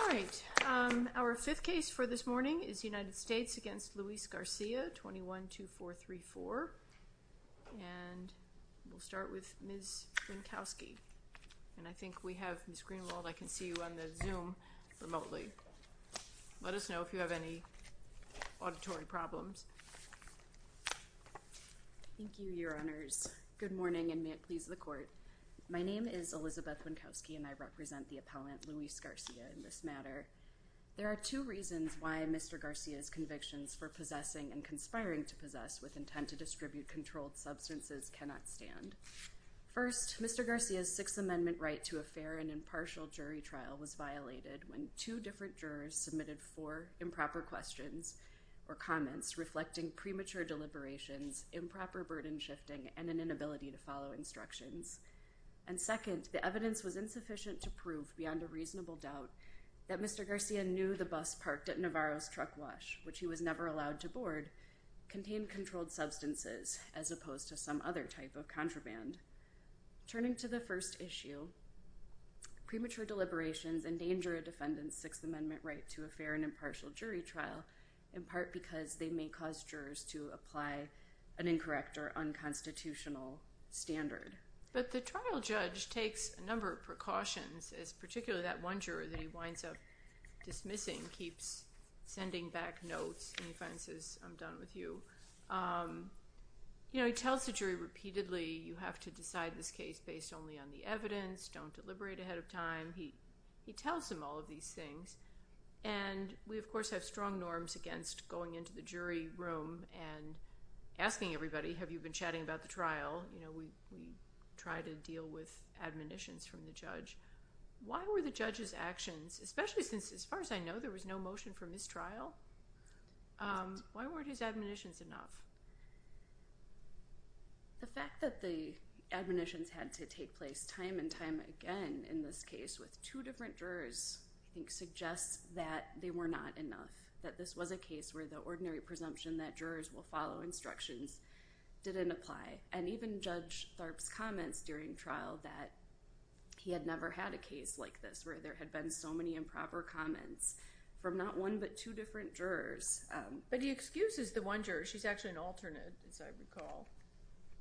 All right, our fifth case for this morning is United States against Luis Garcia 21 2 4 3 4 and We'll start with miss Minkowski, and I think we have miss Greenwald. I can see you on the zoom remotely Let us know if you have any auditory problems Thank you your honors good morning and may it please the court My name is Elizabeth Minkowski and I represent the appellant Luis Garcia in this matter There are two reasons why mr Garcia's convictions for possessing and conspiring to possess with intent to distribute controlled substances cannot stand First mr. Garcia's Sixth Amendment right to a fair and impartial jury trial was violated when two different jurors submitted for improper questions Or comments reflecting premature deliberations improper burden shifting and an inability to follow instructions And second the evidence was insufficient to prove beyond a reasonable doubt that mr Garcia knew the bus parked at Navarro's truck wash, which he was never allowed to board Contained controlled substances as opposed to some other type of contraband turning to the first issue Premature deliberations endanger a defendant's Sixth Amendment right to a fair and impartial jury trial in part because they may cause jurors to apply an incorrect or Unconstitutional standard but the trial judge takes a number of precautions as particularly that one juror that he winds up Dismissing keeps sending back notes and he finally says I'm done with you You know, he tells the jury repeatedly you have to decide this case based only on the evidence don't deliberate ahead of time he he tells him all of these things and we of course have strong norms against going into the jury room and Asking everybody have you been chatting about the trial, you know, we we try to deal with Admonitions from the judge. Why were the judge's actions especially since as far as I know there was no motion for mistrial Why weren't his admonitions enough? The fact that the Admonitions had to take place time and time again in this case with two different jurors I think suggests that they were not enough that this was a case where the ordinary presumption that jurors will follow instructions Didn't apply and even judge Tharp's comments during trial that He had never had a case like this where there had been so many improper comments from not one but two different jurors But he excuses the one juror. She's actually an alternate as I recall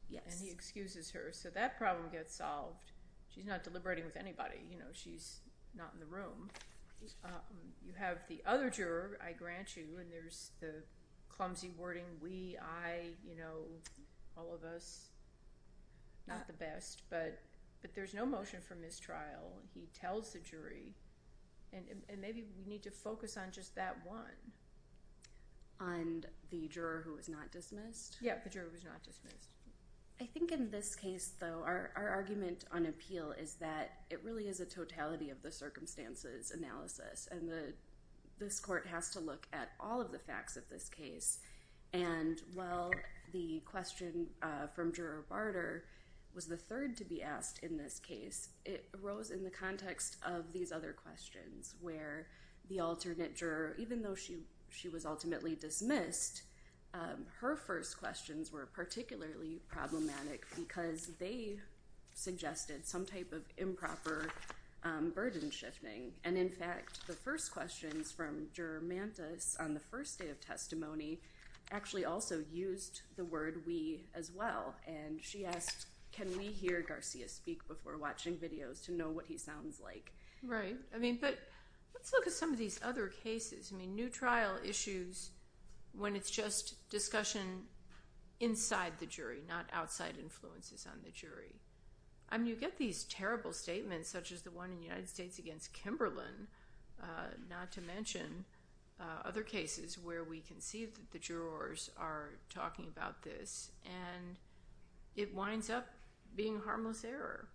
Yeah, and he excuses her so that problem gets solved. She's not deliberating with anybody, you know, she's not in the room You have the other juror I grant you and there's the clumsy wording we I you know all of us Not the best, but but there's no motion for mistrial. He tells the jury and Maybe we need to focus on just that one On the juror who is not dismissed. Yeah, the juror was not dismissed I think in this case though our argument on appeal is that it really is a totality of the circumstances analysis and the this court has to look at all of the facts of this case and Well the question from juror barter was the third to be asked in this case It arose in the context of these other questions where the alternate juror even though she she was ultimately dismissed her first questions were particularly problematic because they suggested some type of improper Burden-shifting and in fact the first questions from juror mantis on the first day of testimony Actually also used the word we as well and she asked can we hear Garcia speak before watching videos to know what? He sounds like right. I mean, but let's look at some of these other cases. I mean new trial issues When it's just discussion Inside the jury not outside influences on the jury I mean you get these terrible statements such as the one in the United States against Kimberlin not to mention other cases where we can see that the jurors are talking about this and It winds up being harmless error.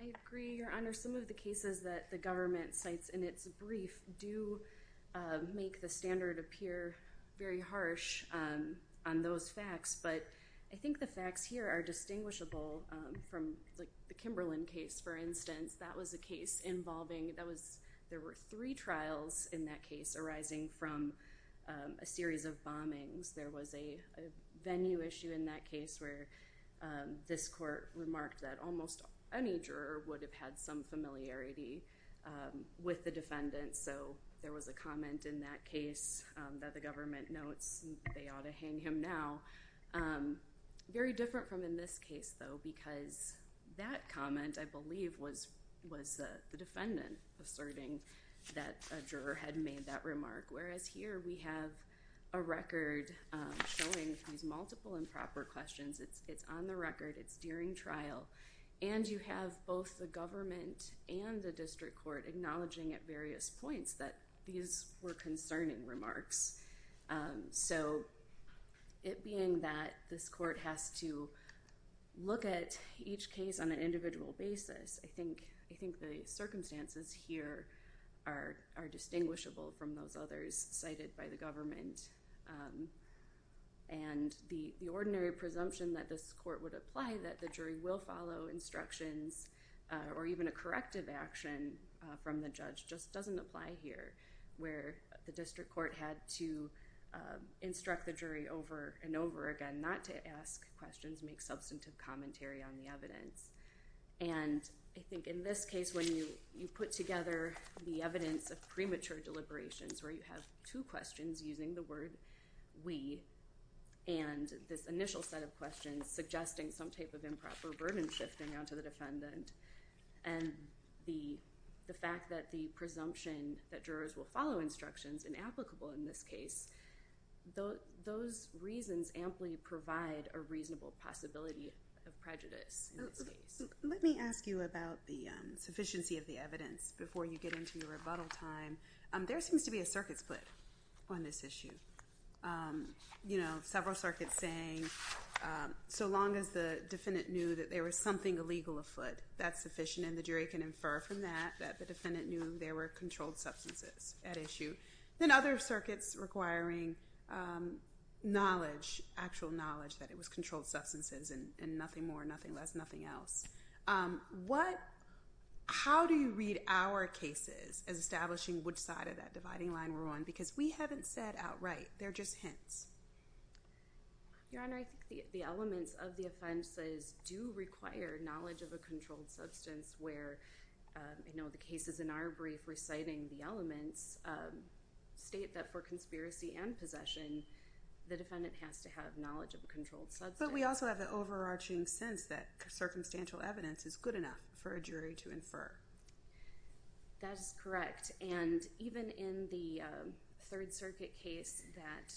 I Agree your honor some of the cases that the government cites in its brief do Make the standard appear very harsh on those facts But I think the facts here are distinguishable from like the Kimberlin case for instance That was a case involving that was there were three trials in that case arising from a series of bombings there was a venue issue in that case where This court remarked that almost any juror would have had some familiarity With the defendant so there was a comment in that case that the government notes they ought to hang him now Very different from in this case though because that comment I believe was was the defendant asserting that a juror had made that remark Whereas here we have a record Showing these multiple improper questions. It's it's on the record It's during trial and you have both the government and the district court Acknowledging at various points that these were concerning remarks so it being that this court has to Look at each case on an individual basis. I think I think the circumstances here are Are distinguishable from those others cited by the government? and The the ordinary presumption that this court would apply that the jury will follow instructions or even a corrective action from the judge just doesn't apply here where the district court had to instruct the jury over and over again not to ask questions make substantive commentary on the evidence and I think in this case when you you put together the evidence of premature deliberations where you have two questions using the word we and this initial set of questions suggesting some type of improper burden shifting onto the defendant and The the fact that the presumption that jurors will follow instructions and applicable in this case Though those reasons amply provide a reasonable possibility of prejudice Let me ask you about the sufficiency of the evidence before you get into your rebuttal time There seems to be a circuit split on this issue You know several circuits saying So long as the defendant knew that there was something illegal afoot That's sufficient and the jury can infer from that that the defendant knew there were controlled substances at issue then other circuits requiring Knowledge actual knowledge that it was controlled substances and nothing more nothing less nothing else what How do you read our cases as establishing which side of that dividing line we're on because we haven't said outright they're just hints Your honor. I think the elements of the offenses do require knowledge of a controlled substance where You know the cases in our brief reciting the elements State that for conspiracy and possession The defendant has to have knowledge of a controlled substance But we also have an overarching sense that circumstantial evidence is good enough for a jury to infer that is correct and even in the Third Circuit case that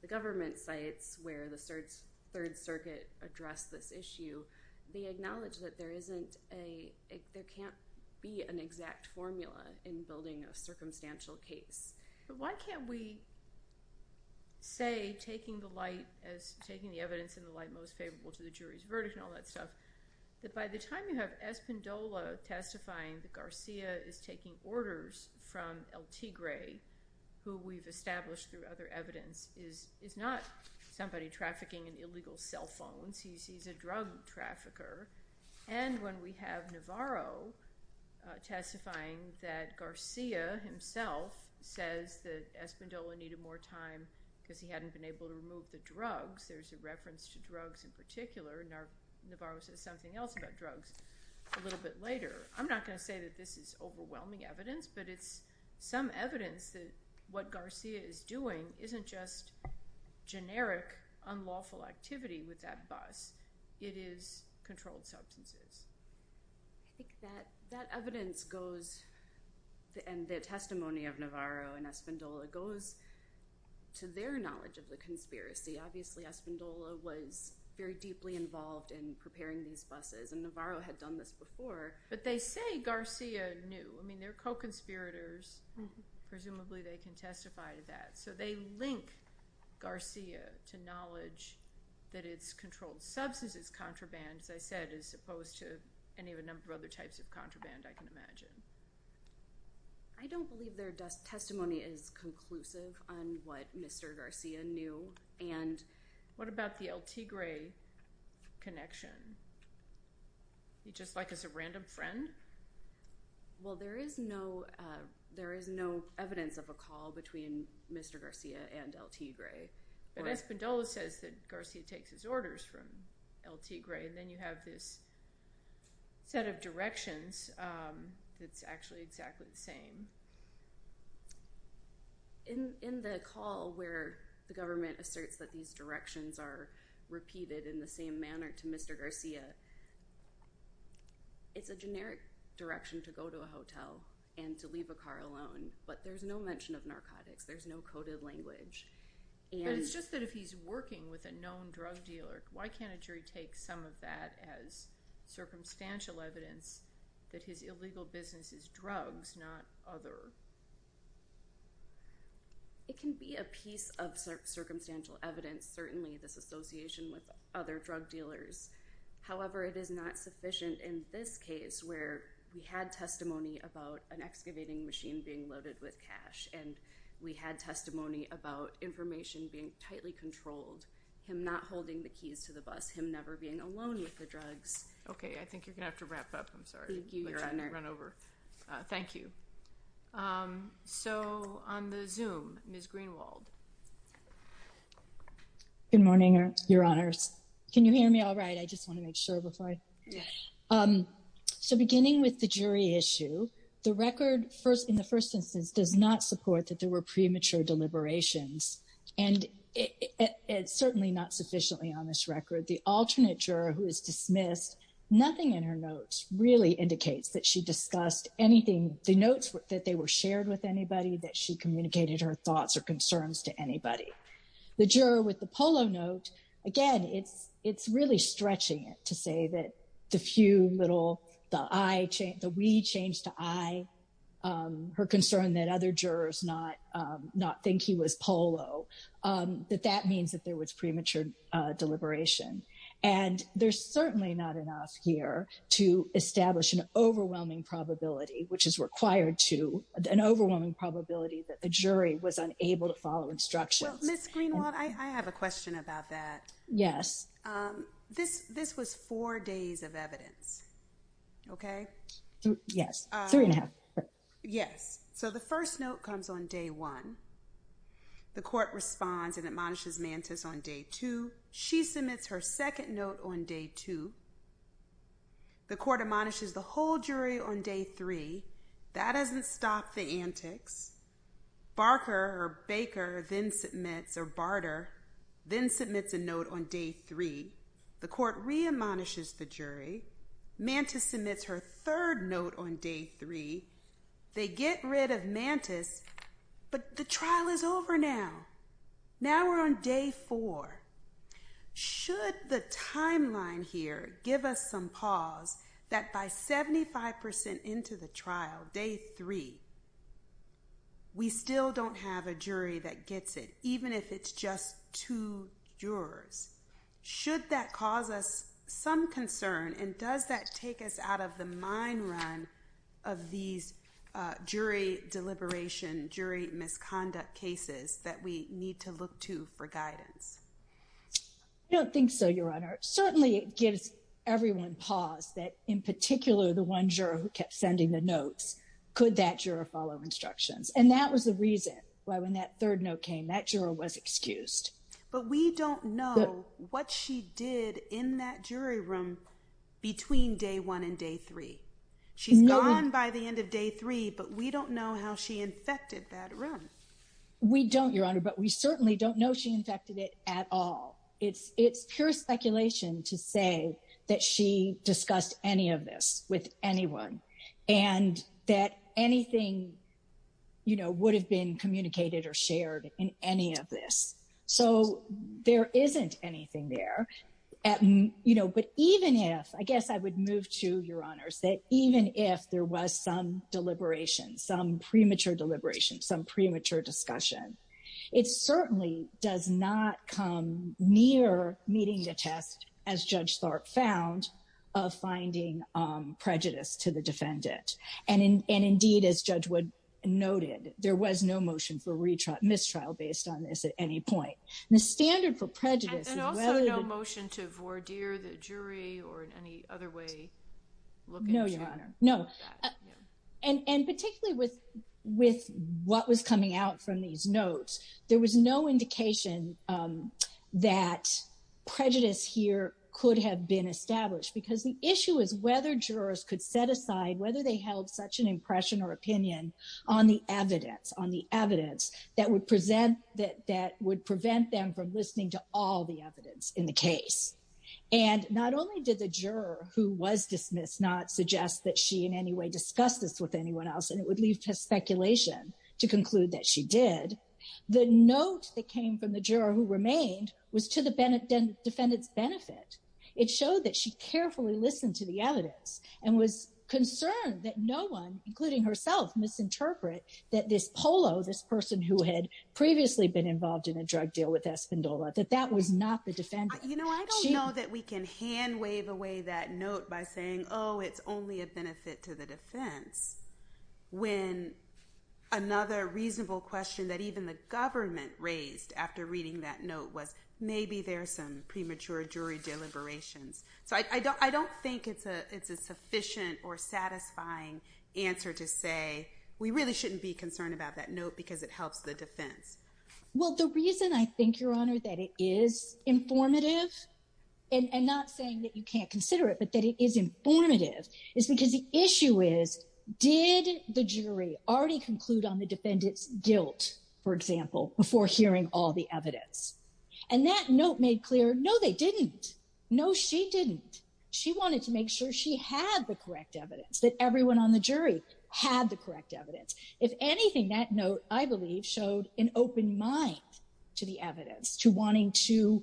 the government sites where the search Third Circuit addressed this issue the acknowledged that there isn't a There can't be an exact formula in building a circumstantial case. Why can't we? Say taking the light as taking the evidence in the light most favorable to the jury's verdict and all that stuff That by the time you have Espin Dola Testifying that Garcia is taking orders from El Tigre Who we've established through other evidence is is not somebody trafficking in illegal cell phones. He's he's a drug trafficker And when we have Navarro Testifying that Garcia Himself says that Espin Dola needed more time because he hadn't been able to remove the drugs There's a reference to drugs in particular and our Navarro says something else about drugs a little bit later I'm not going to say that this is overwhelming evidence, but it's some evidence that what Garcia is doing isn't just generic unlawful activity with that bus it is controlled substances I Goes and the testimony of Navarro and Espin Dola goes to their knowledge of the conspiracy Obviously Espin Dola was very deeply involved in preparing these buses and Navarro had done this before But they say Garcia knew I mean they're co-conspirators Presumably they can testify to that so they link Garcia to knowledge that it's controlled substances Contraband as I said as opposed to any of a number of other types of contraband I can imagine I Don't believe their testimony is conclusive on what mr. Garcia knew and what about the El Tigre? connection You just like as a random friend Well, there is no There is no evidence of a call between mr. Garcia and El Tigre But Espin Dola says that Garcia takes his orders from El Tigre and then you have this set of directions That's actually exactly the same In in the call where the government asserts that these directions are repeated in the same manner to mr. Garcia It's a generic direction to go to a hotel and to leave a car alone, but there's no mention of narcotics There's no coded language, and it's just that if he's working with a known drug dealer. Why can't a jury take some of that as Circumstantial evidence that his illegal business is drugs not other It can be a piece of Circumstantial evidence certainly this association with other drug dealers However, it is not sufficient in this case where we had testimony about an excavating machine being loaded with cash We had testimony about information being tightly controlled him not holding the keys to the bus him never being alone with the drugs Okay, I think you're gonna have to wrap up. I'm sorry Thank you So on the zoom miss Greenwald Good morning your honors. Can you hear me? All right. I just want to make sure before I Um so beginning with the jury issue the record first in the first instance does not support that there were premature deliberations and It's certainly not sufficiently on this record the alternate juror who is dismissed Nothing in her notes really indicates that she discussed anything the notes that they were shared with anybody that she Communicated her thoughts or concerns to anybody the juror with the polo note again It's it's really stretching it to say that the few little the I change the we change to I Her concern that other jurors not not think he was polo That that means that there was premature deliberation and there's certainly not enough here to establish an overwhelming probability Which is required to an overwhelming probability that the jury was unable to follow instructions I have a question about that. Yes This this was four days of evidence Okay. Yes Yes, so the first note comes on day one The court responds and admonishes mantis on day two. She submits her second note on day two The court admonishes the whole jury on day three that doesn't stop the antics Barker or Baker then submits or barter then submits a note on day three the court re-admonishes the jury Mantis submits her third note on day three They get rid of mantis But the trial is over now Now we're on day four Should the timeline here give us some pause that by 75% into the trial day three We still don't have a jury that gets it. Even if it's just two jurors Should that cause us some concern and does that take us out of the mine run of these? jury Deliberation jury misconduct cases that we need to look to for guidance You don't think so your honor certainly it gives everyone pause that in particular the one juror who kept sending the notes Could that juror follow instructions and that was the reason why when that third note came that juror was excused But we don't know what she did in that jury room Between day one and day three. She's gone by the end of day three, but we don't know how she infected that room We don't your honor, but we certainly don't know. She infected it at all it's it's pure speculation to say that she discussed any of this with anyone and Anything You know would have been communicated or shared in any of this. So there isn't anything there You know But even if I guess I would move to your honors that even if there was some deliberation some premature deliberation some premature discussion It certainly does not come near meeting the test as judge Thorpe found of And indeed as judge would Noted there was no motion for retrial mistrial based on this at any point the standard for prejudice Motion to voir dire the jury or in any other way? No, your honor. No and and particularly with with what was coming out from these notes There was no indication that Prejudice here could have been established because the issue is whether jurors could set aside whether they held such an impression or opinion on the evidence on the evidence that would present that that would prevent them from listening to all the evidence in the case and Not only did the juror who was dismissed not suggest that she in any way discussed this with anyone else and it would leave Speculation to conclude that she did the note that came from the juror who remained was to the Bennett Defendant's benefit. It showed that she carefully listened to the evidence and was concerned that no one including herself Misinterpret that this polo this person who had previously been involved in a drug deal with Espin Dola that that was not the defendant You know, I don't know that we can hand wave away that note by saying oh, it's only a benefit to the defense When Another reasonable question that even the government raised after reading that note was maybe there's some premature jury deliberations So I don't I don't think it's a it's a sufficient or satisfying Answer to say we really shouldn't be concerned about that note because it helps the defense Well, the reason I think your honor that it is informative and Did the jury already conclude on the defendant's guilt for example before hearing all the evidence and That note made clear. No, they didn't know she didn't she wanted to make sure she had the correct evidence that everyone on the jury Had the correct evidence if anything that note I believe showed an open mind to the evidence to wanting to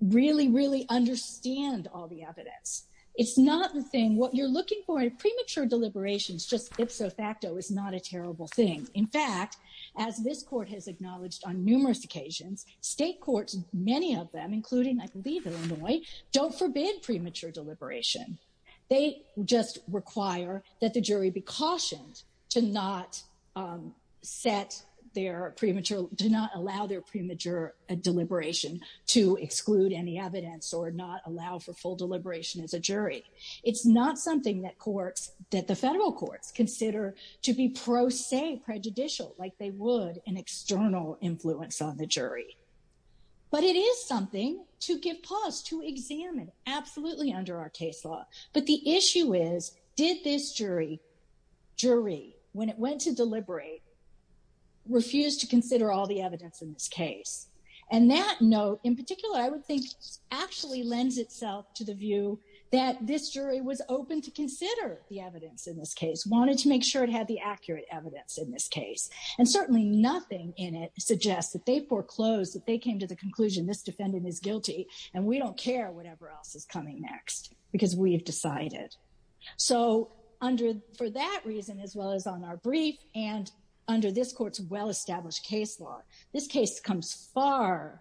Really really understand all the evidence It's not the thing what you're looking for a premature deliberations just if so facto is not a terrible thing In fact as this court has acknowledged on numerous occasions State courts many of them including I believe Illinois don't forbid premature deliberation They just require that the jury be cautioned to not Set their premature do not allow their premature Deliberation to exclude any evidence or not allow for full deliberation as a jury It's not something that courts that the federal courts consider to be pro se prejudicial like they would an external influence on the jury But it is something to give pause to examine absolutely under our case law, but the issue is did this jury When it went to deliberate refused to consider all the evidence in this case and that note in particular I would think Actually lends itself to the view that this jury was open to consider the evidence in this case Wanted to make sure it had the accurate evidence in this case and certainly nothing in it Suggests that they foreclosed that they came to the conclusion This defendant is guilty and we don't care whatever else is coming next because we have decided So under for that reason as well as on our brief and under this court's well-established case law This case comes far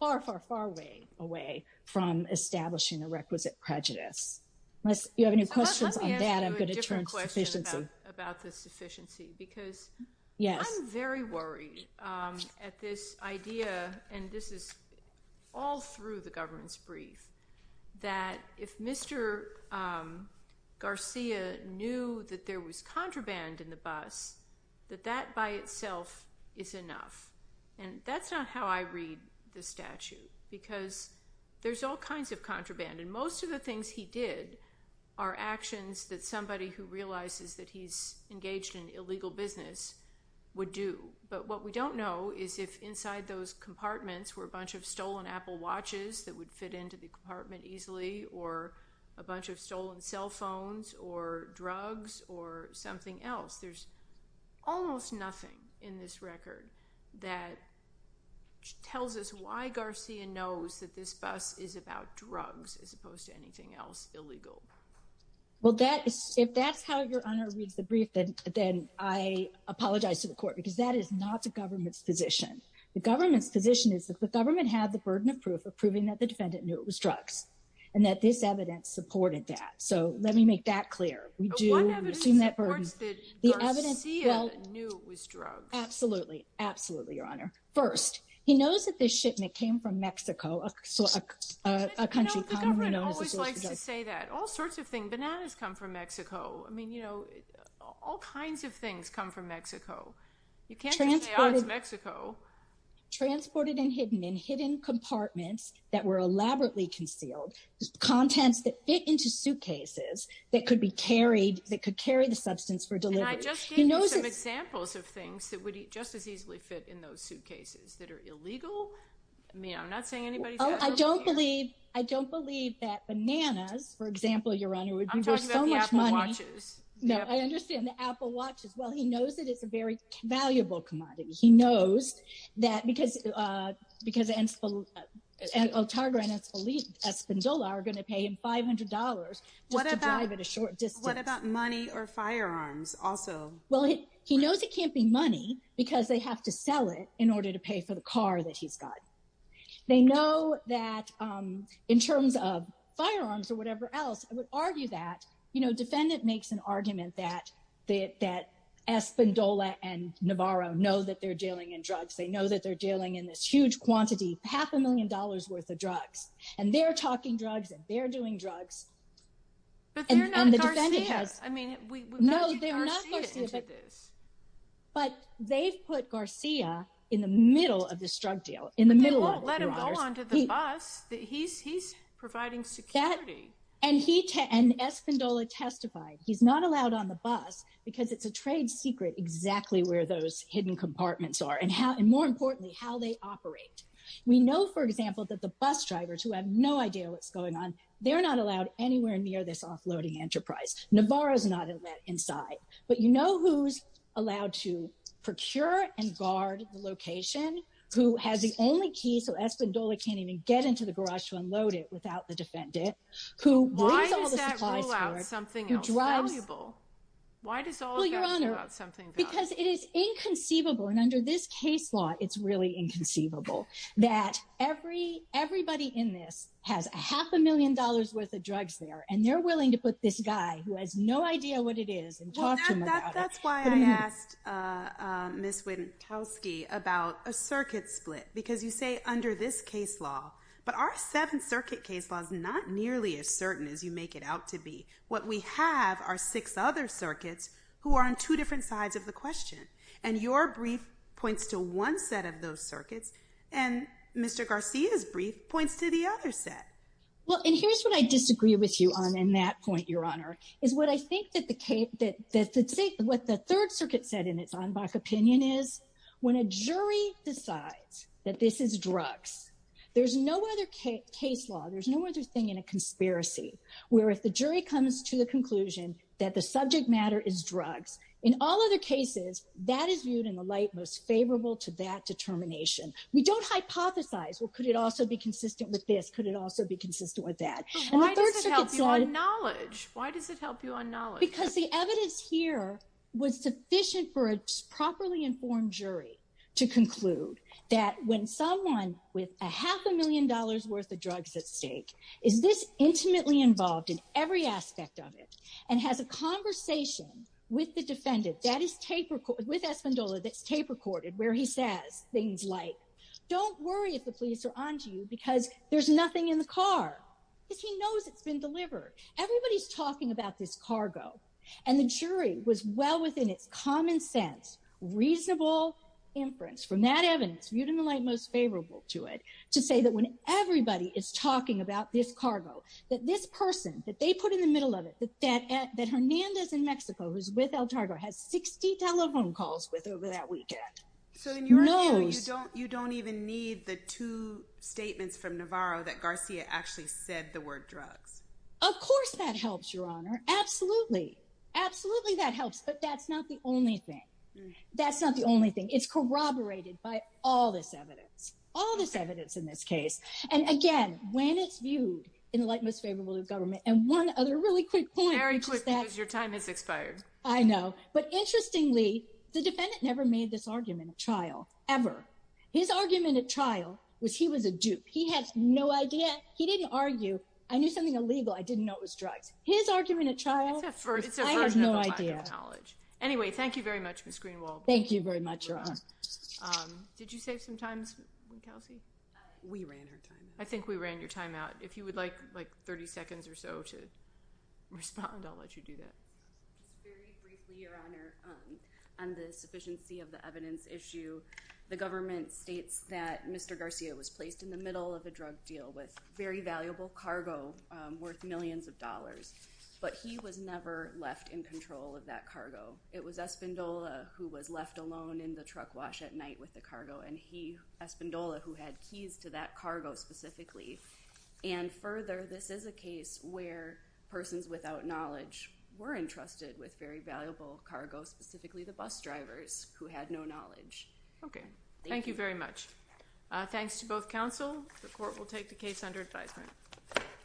far far far way away from Establishing a requisite prejudice. Unless you have any questions on that, I'm going to turn to sufficiency. I have a question about the sufficiency because Yes, I'm very worried at this idea and this is all through the government's brief that if Mr. Garcia knew that there was contraband in the bus that that by itself is enough and that's not how I read the statute because there's all kinds of contraband and most of the things he did are Actions that somebody who realizes that he's engaged in illegal business Would do but what we don't know is if inside those Cellphones or drugs or something else. There's almost nothing in this record that Tells us why Garcia knows that this bus is about drugs as opposed to anything else illegal well, that is if that's how your honor reads the brief that then I Apologize to the court because that is not the government's position The government's position is that the government had the burden of proof of proving that the defendant knew it was drugs And that this evidence supported that so let me make that clear. We do the evidence Absolutely, absolutely your honor first. He knows that this shipment came from Mexico Say that all sorts of things bananas come from Mexico. I mean, you know all kinds of things come from Mexico In Mexico Transported and hidden in hidden compartments that were elaborately concealed Contents that fit into suitcases that could be carried that could carry the substance for delivery You know some examples of things that would eat just as easily fit in those suitcases that are illegal I mean, I'm not saying anybody. I don't believe I don't believe that bananas for example, your honor Watches no, I understand the Apple watches. Well, he knows that it's a very valuable commodity. He knows that because because Otago and it's believed a spindle are gonna pay him $500 What about a short just what about money or firearms also? Well, he he knows it can't be money because they have to sell it in order to pay for the car that he's got they know that In terms of firearms or whatever else I would argue that you know defendant makes an argument that they that Espindola and Navarro know that they're dealing in drugs They know that they're dealing in this huge quantity half a million dollars worth of drugs and they're talking drugs and they're doing drugs But they've put Garcia in the middle of this drug deal in the middle Let him go on to the bus that he's he's providing security and he ten Espindola testified He's not allowed on the bus because it's a trade secret Exactly where those hidden compartments are and how and more importantly how they operate We know for example that the bus drivers who have no idea what's going on They're not allowed anywhere near this offloading enterprise Navarro's not in that inside But you know who's allowed to procure and guard the location Who has the only key so Espindola can't even get into the garage to unload it without the defendant Because it is inconceivable and under this case law It's really inconceivable that every everybody in this has a half a million dollars worth of drugs there And they're willing to put this guy who has no idea what it is That's why I asked Miss Wittowski about a circuit split because you say under this case law But our seventh circuit case laws not nearly as certain as you make it out to be what we have are six other circuits who are on two different sides of the question and your brief points to one set of those circuits and Mr. Garcia's brief points to the other set Well, and here's what I disagree with you on in that point Is what I think that the cape that What the Third Circuit said in its own back opinion is when a jury decides that this is drugs There's no other case law There's no other thing in a conspiracy Where if the jury comes to the conclusion that the subject matter is drugs in all other cases That is viewed in the light most favorable to that determination. We don't hypothesize Well, could it also be consistent with this could it also be consistent with that? Knowledge why does it help you on knowledge because the evidence here was sufficient for a properly informed jury to Conclude that when someone with a half a million dollars worth of drugs at stake is this? Intimately involved in every aspect of it and has a conversation with the defendant that is tape record with Espandola That's tape recorded where he says things like don't worry if the police are on to you because there's nothing in the car If he knows it's been delivered Everybody's talking about this cargo and the jury was well within its common-sense reasonable inference from that evidence viewed in the light most favorable to it to say that when Everybody is talking about this cargo that this person that they put in the middle of it But that at that Hernandez in Mexico who's with El Targo has 60 telephone calls with over that weekend So then you know, you don't you don't even need the two Statements from Navarro that Garcia actually said the word drugs, of course that helps your honor. Absolutely Absolutely that helps but that's not the only thing That's not the only thing it's corroborated by all this evidence all this evidence in this case And again when it's viewed in the light most favorable to government and one other really quick very quick that your time is expired I know but interestingly the defendant never made this argument a trial ever His argument at trial was he was a dupe he has no idea he didn't argue I knew something illegal I didn't know it was drugs his argument a trial Knowledge anyway, thank you very much. Miss Greenwald. Thank you very much. You're on Did you save some time? We ran her time. I think we ran your time out if you would like like 30 seconds or so to Respond, I'll let you do that Very briefly your honor on the sufficiency of the evidence issue the government states that mr Garcia was placed in the middle of a drug deal with very valuable cargo worth millions of dollars But he was never left in control of that cargo It was a spindle who was left alone in the truck wash at night with the cargo and he Espandola who had keys to that cargo specifically and further This is a case where Persons without knowledge were entrusted with very valuable cargo specifically the bus drivers who had no knowledge Okay. Thank you very much Thanks to both counsel. The court will take the case under advisement